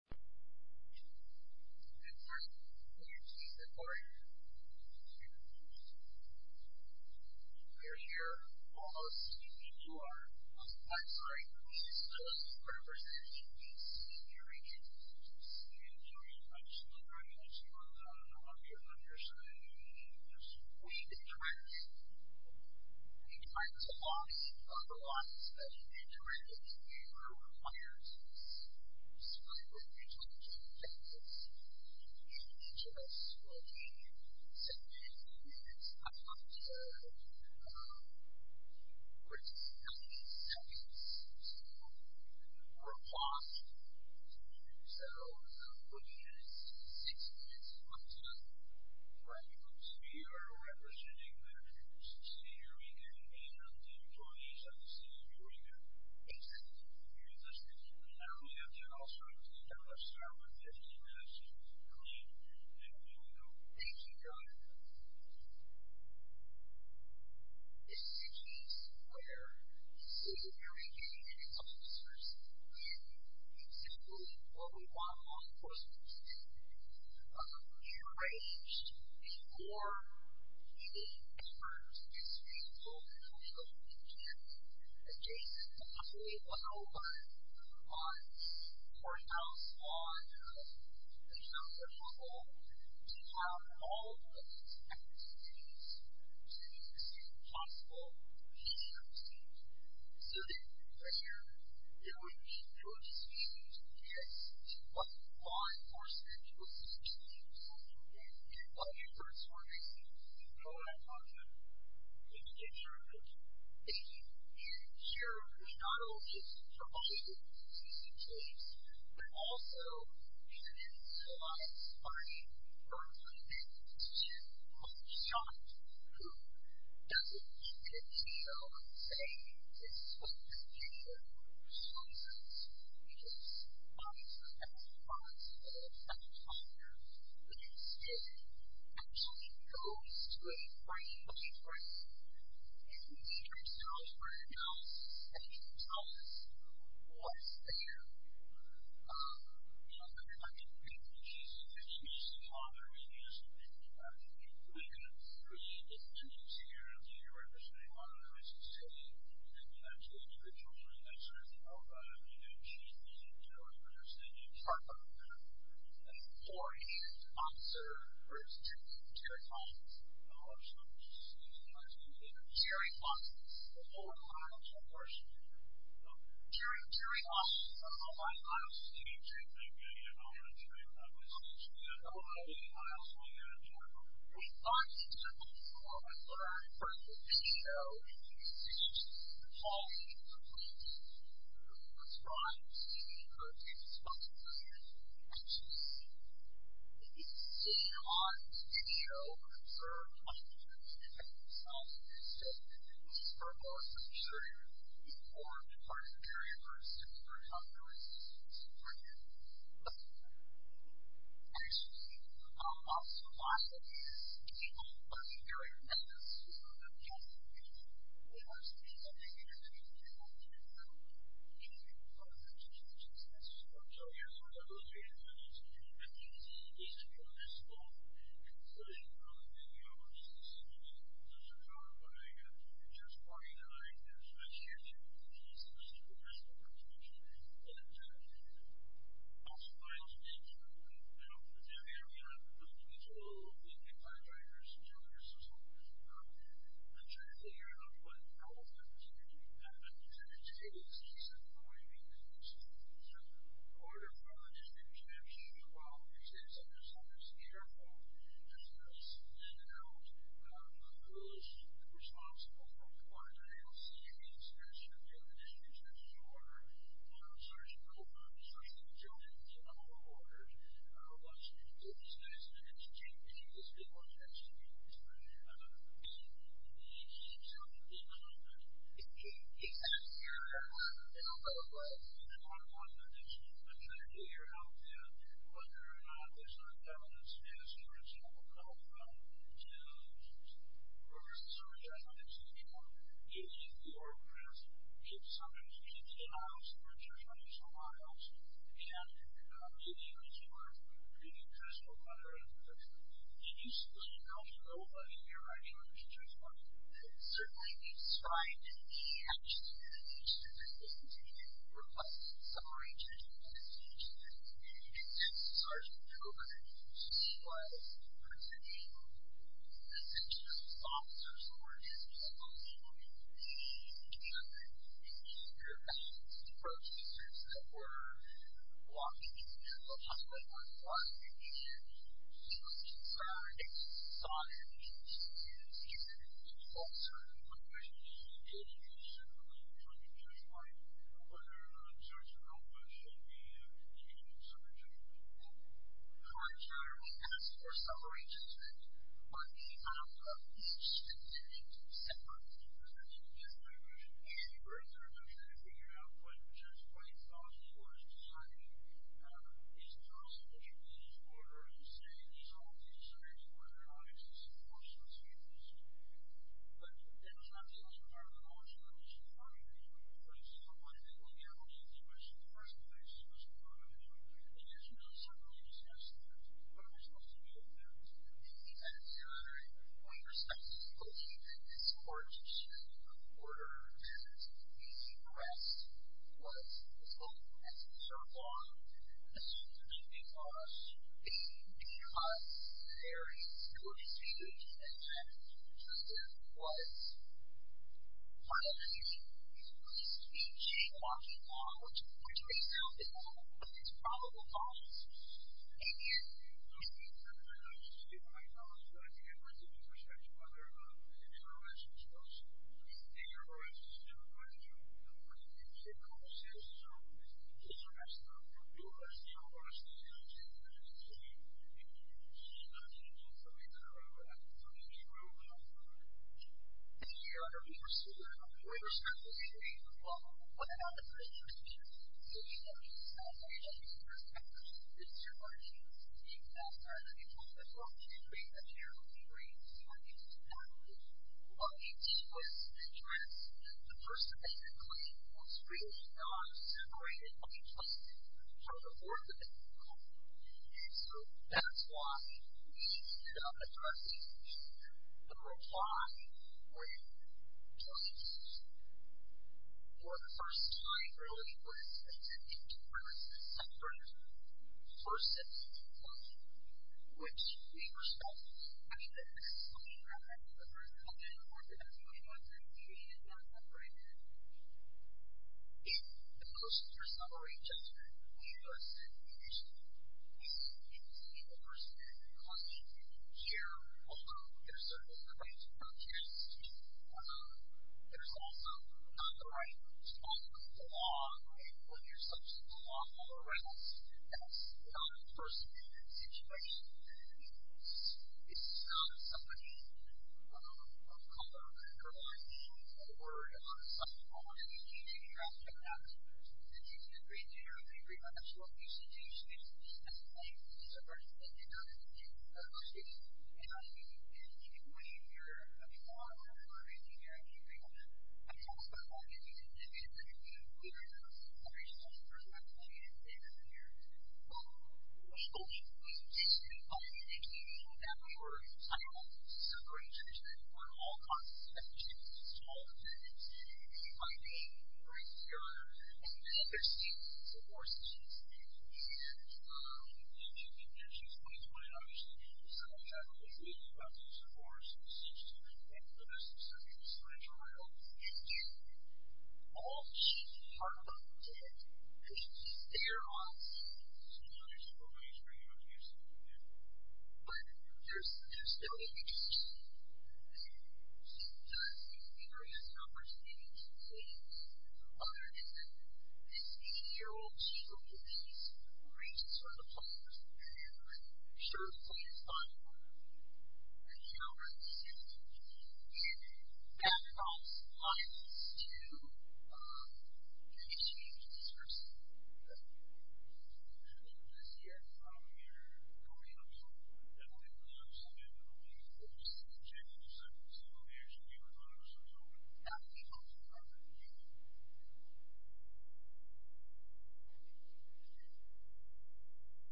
And first, can you please step forward? You're here almost. I think you are. I'm sorry. This is just a representation piece. Can you read it? Can you read it? I'm sure you can. I'm sure you can. I don't know how to get it on your screen. Read it correctly. I think you can find this along. Otherwise, I can't read it. It requires us to write what you told us. And each of us will be sending in its highlights. We're just counting seconds. So we're paused. So we'll be in it 60 minutes at one time. Right. We are representing the campus this year. We can't be here until 2017. Exactly. We have to also have a start with 15 minutes to complete. Thank you. Thank you, John. This is a case where we see very big influencers. And simply, what we want most, of course, is to be rearranged before meeting experts as reasonable as possible. We can't adjacent to possibly a home on, or a house on, you know, a hostel. We have all of these efforts to do this. We have to make this as possible as soon as possible. So that, you know, it would be good for us to be able to address what law enforcement will suggest that we do. And what efforts we're making. You know what I'm talking about. Thank you. Thank you very much. Thank you. And here, we not only just provide a consistent case, but also we're going to utilize funding for a three-minute short. Who doesn't keep their tail and say, this is what the future shows us. Because, obviously, the best response of any talker is it actually goes to a frame of reference. You can see yourselves or anyone else, and you can tell us what's there. Yeah. I mean, she's an amazing talker. And, you know, we have three independent chairs, and you're representing one of them, I should say. And then you have two individuals. And I'm not sure if you know about it, but you know, she's an interior person. And you've talked about that. And four in-house officer groups. Jerry Faulks. Jerry Faulks. Jerry Faulks. Jerry Faulks. Jerry Faulks. I was teaching at the Indian College. I was teaching at OI, and I was one of the head of the IOC. We thought you were. But I heard from the show, and you can see the quality of the people who are described, seen, and heard. And it's fun to see the people you actually see. And you can see your audience, the show, and observe how they're doing. And it's awesome. So, this is for us, and I'm sure you've been informed in part of the jury, but for instance, for example, there was a Supreme Court hearing. I used to speak for the public office, but a lot of these people, they're like messes, you know, they're casting people. They're casting people. I think it's interesting, because I've been around a lot of people, but a lot of them are just messes. So, you're sort of illustrating that, and it's interesting to me. I think it's interesting to me as well. And so, you know, there's a show I'm doing, and there's a party that I attend. And it's interesting. If somebody needs a house, or a church, or a lot of houses, and you think that you are treating a person or a mother as a person, and you simply don't know about it, you're writing a letter to a church party. Certainly, it's trying to be actually doing these specific things, and again, you're requesting some arrangement, and it's interesting to me. And since Sergeant Cooper, she was presenting a bunch of officers who were just kind of looking at the, you know, their questions, their approaches, the sorts that were blocking these people, possibly by fraud, and she was concerned, saw their views, and she said, it's false, or in one way, it is certainly trying to justify whether Sergeant Cooper should be in charge of a church party. Contrarily, as for some arrangements, on the account of each of these decisions, separate decisions, I think, yes, there is a reduction in figuring out what a church party thought and what it was deciding. It's impossible that you can just order and say, these are all things that are very important and obvious, and so, of course, that's what you have to decide. But, that's not the only part of the margin that we should argue here. For instance, a lot of people in the army think that the first thing that they should do is to go to the military, and yet, you don't certainly discuss that. We're supposed to go to the military, and yet, from my perspective, I don't think that this court should order that he be pressed who he was as long as he served long, especially because in many of us, there is, it would be stupid to say that Justin was piloting at least teaching walking law, which, based on his probable cause, he was. Thank you. Just a quick comment. I just didn't recognize you. I think I've heard you before, so I just wondered if you had a relationship with him. I think your relationship with him would have been pretty close. So, just to ask who has the overestimation that he's teaching something that I would have thought to be true. Thank you, Your Honor. We were sitting and we were discussing the issue of whether or not it was true that he was piloting at least for his purpose. It's true, Your Honor, he was teaching that at any point in his life, he would create a terrible experience for his faculty. He was a person that, basically, was really non-separated and untrusted from the board of the department. And so, that's why we ended up addressing the reply for him to our agency. For the first time, really, it was intended for a separate version of him which we were stuck having to explain rather than refer to him as a non-separated person. In the motion for summary yesterday, we listed, basically, he's a person who causes you to hear, well, there's a right to not hear his speech, there's also not the right to follow the law and put yourself in the law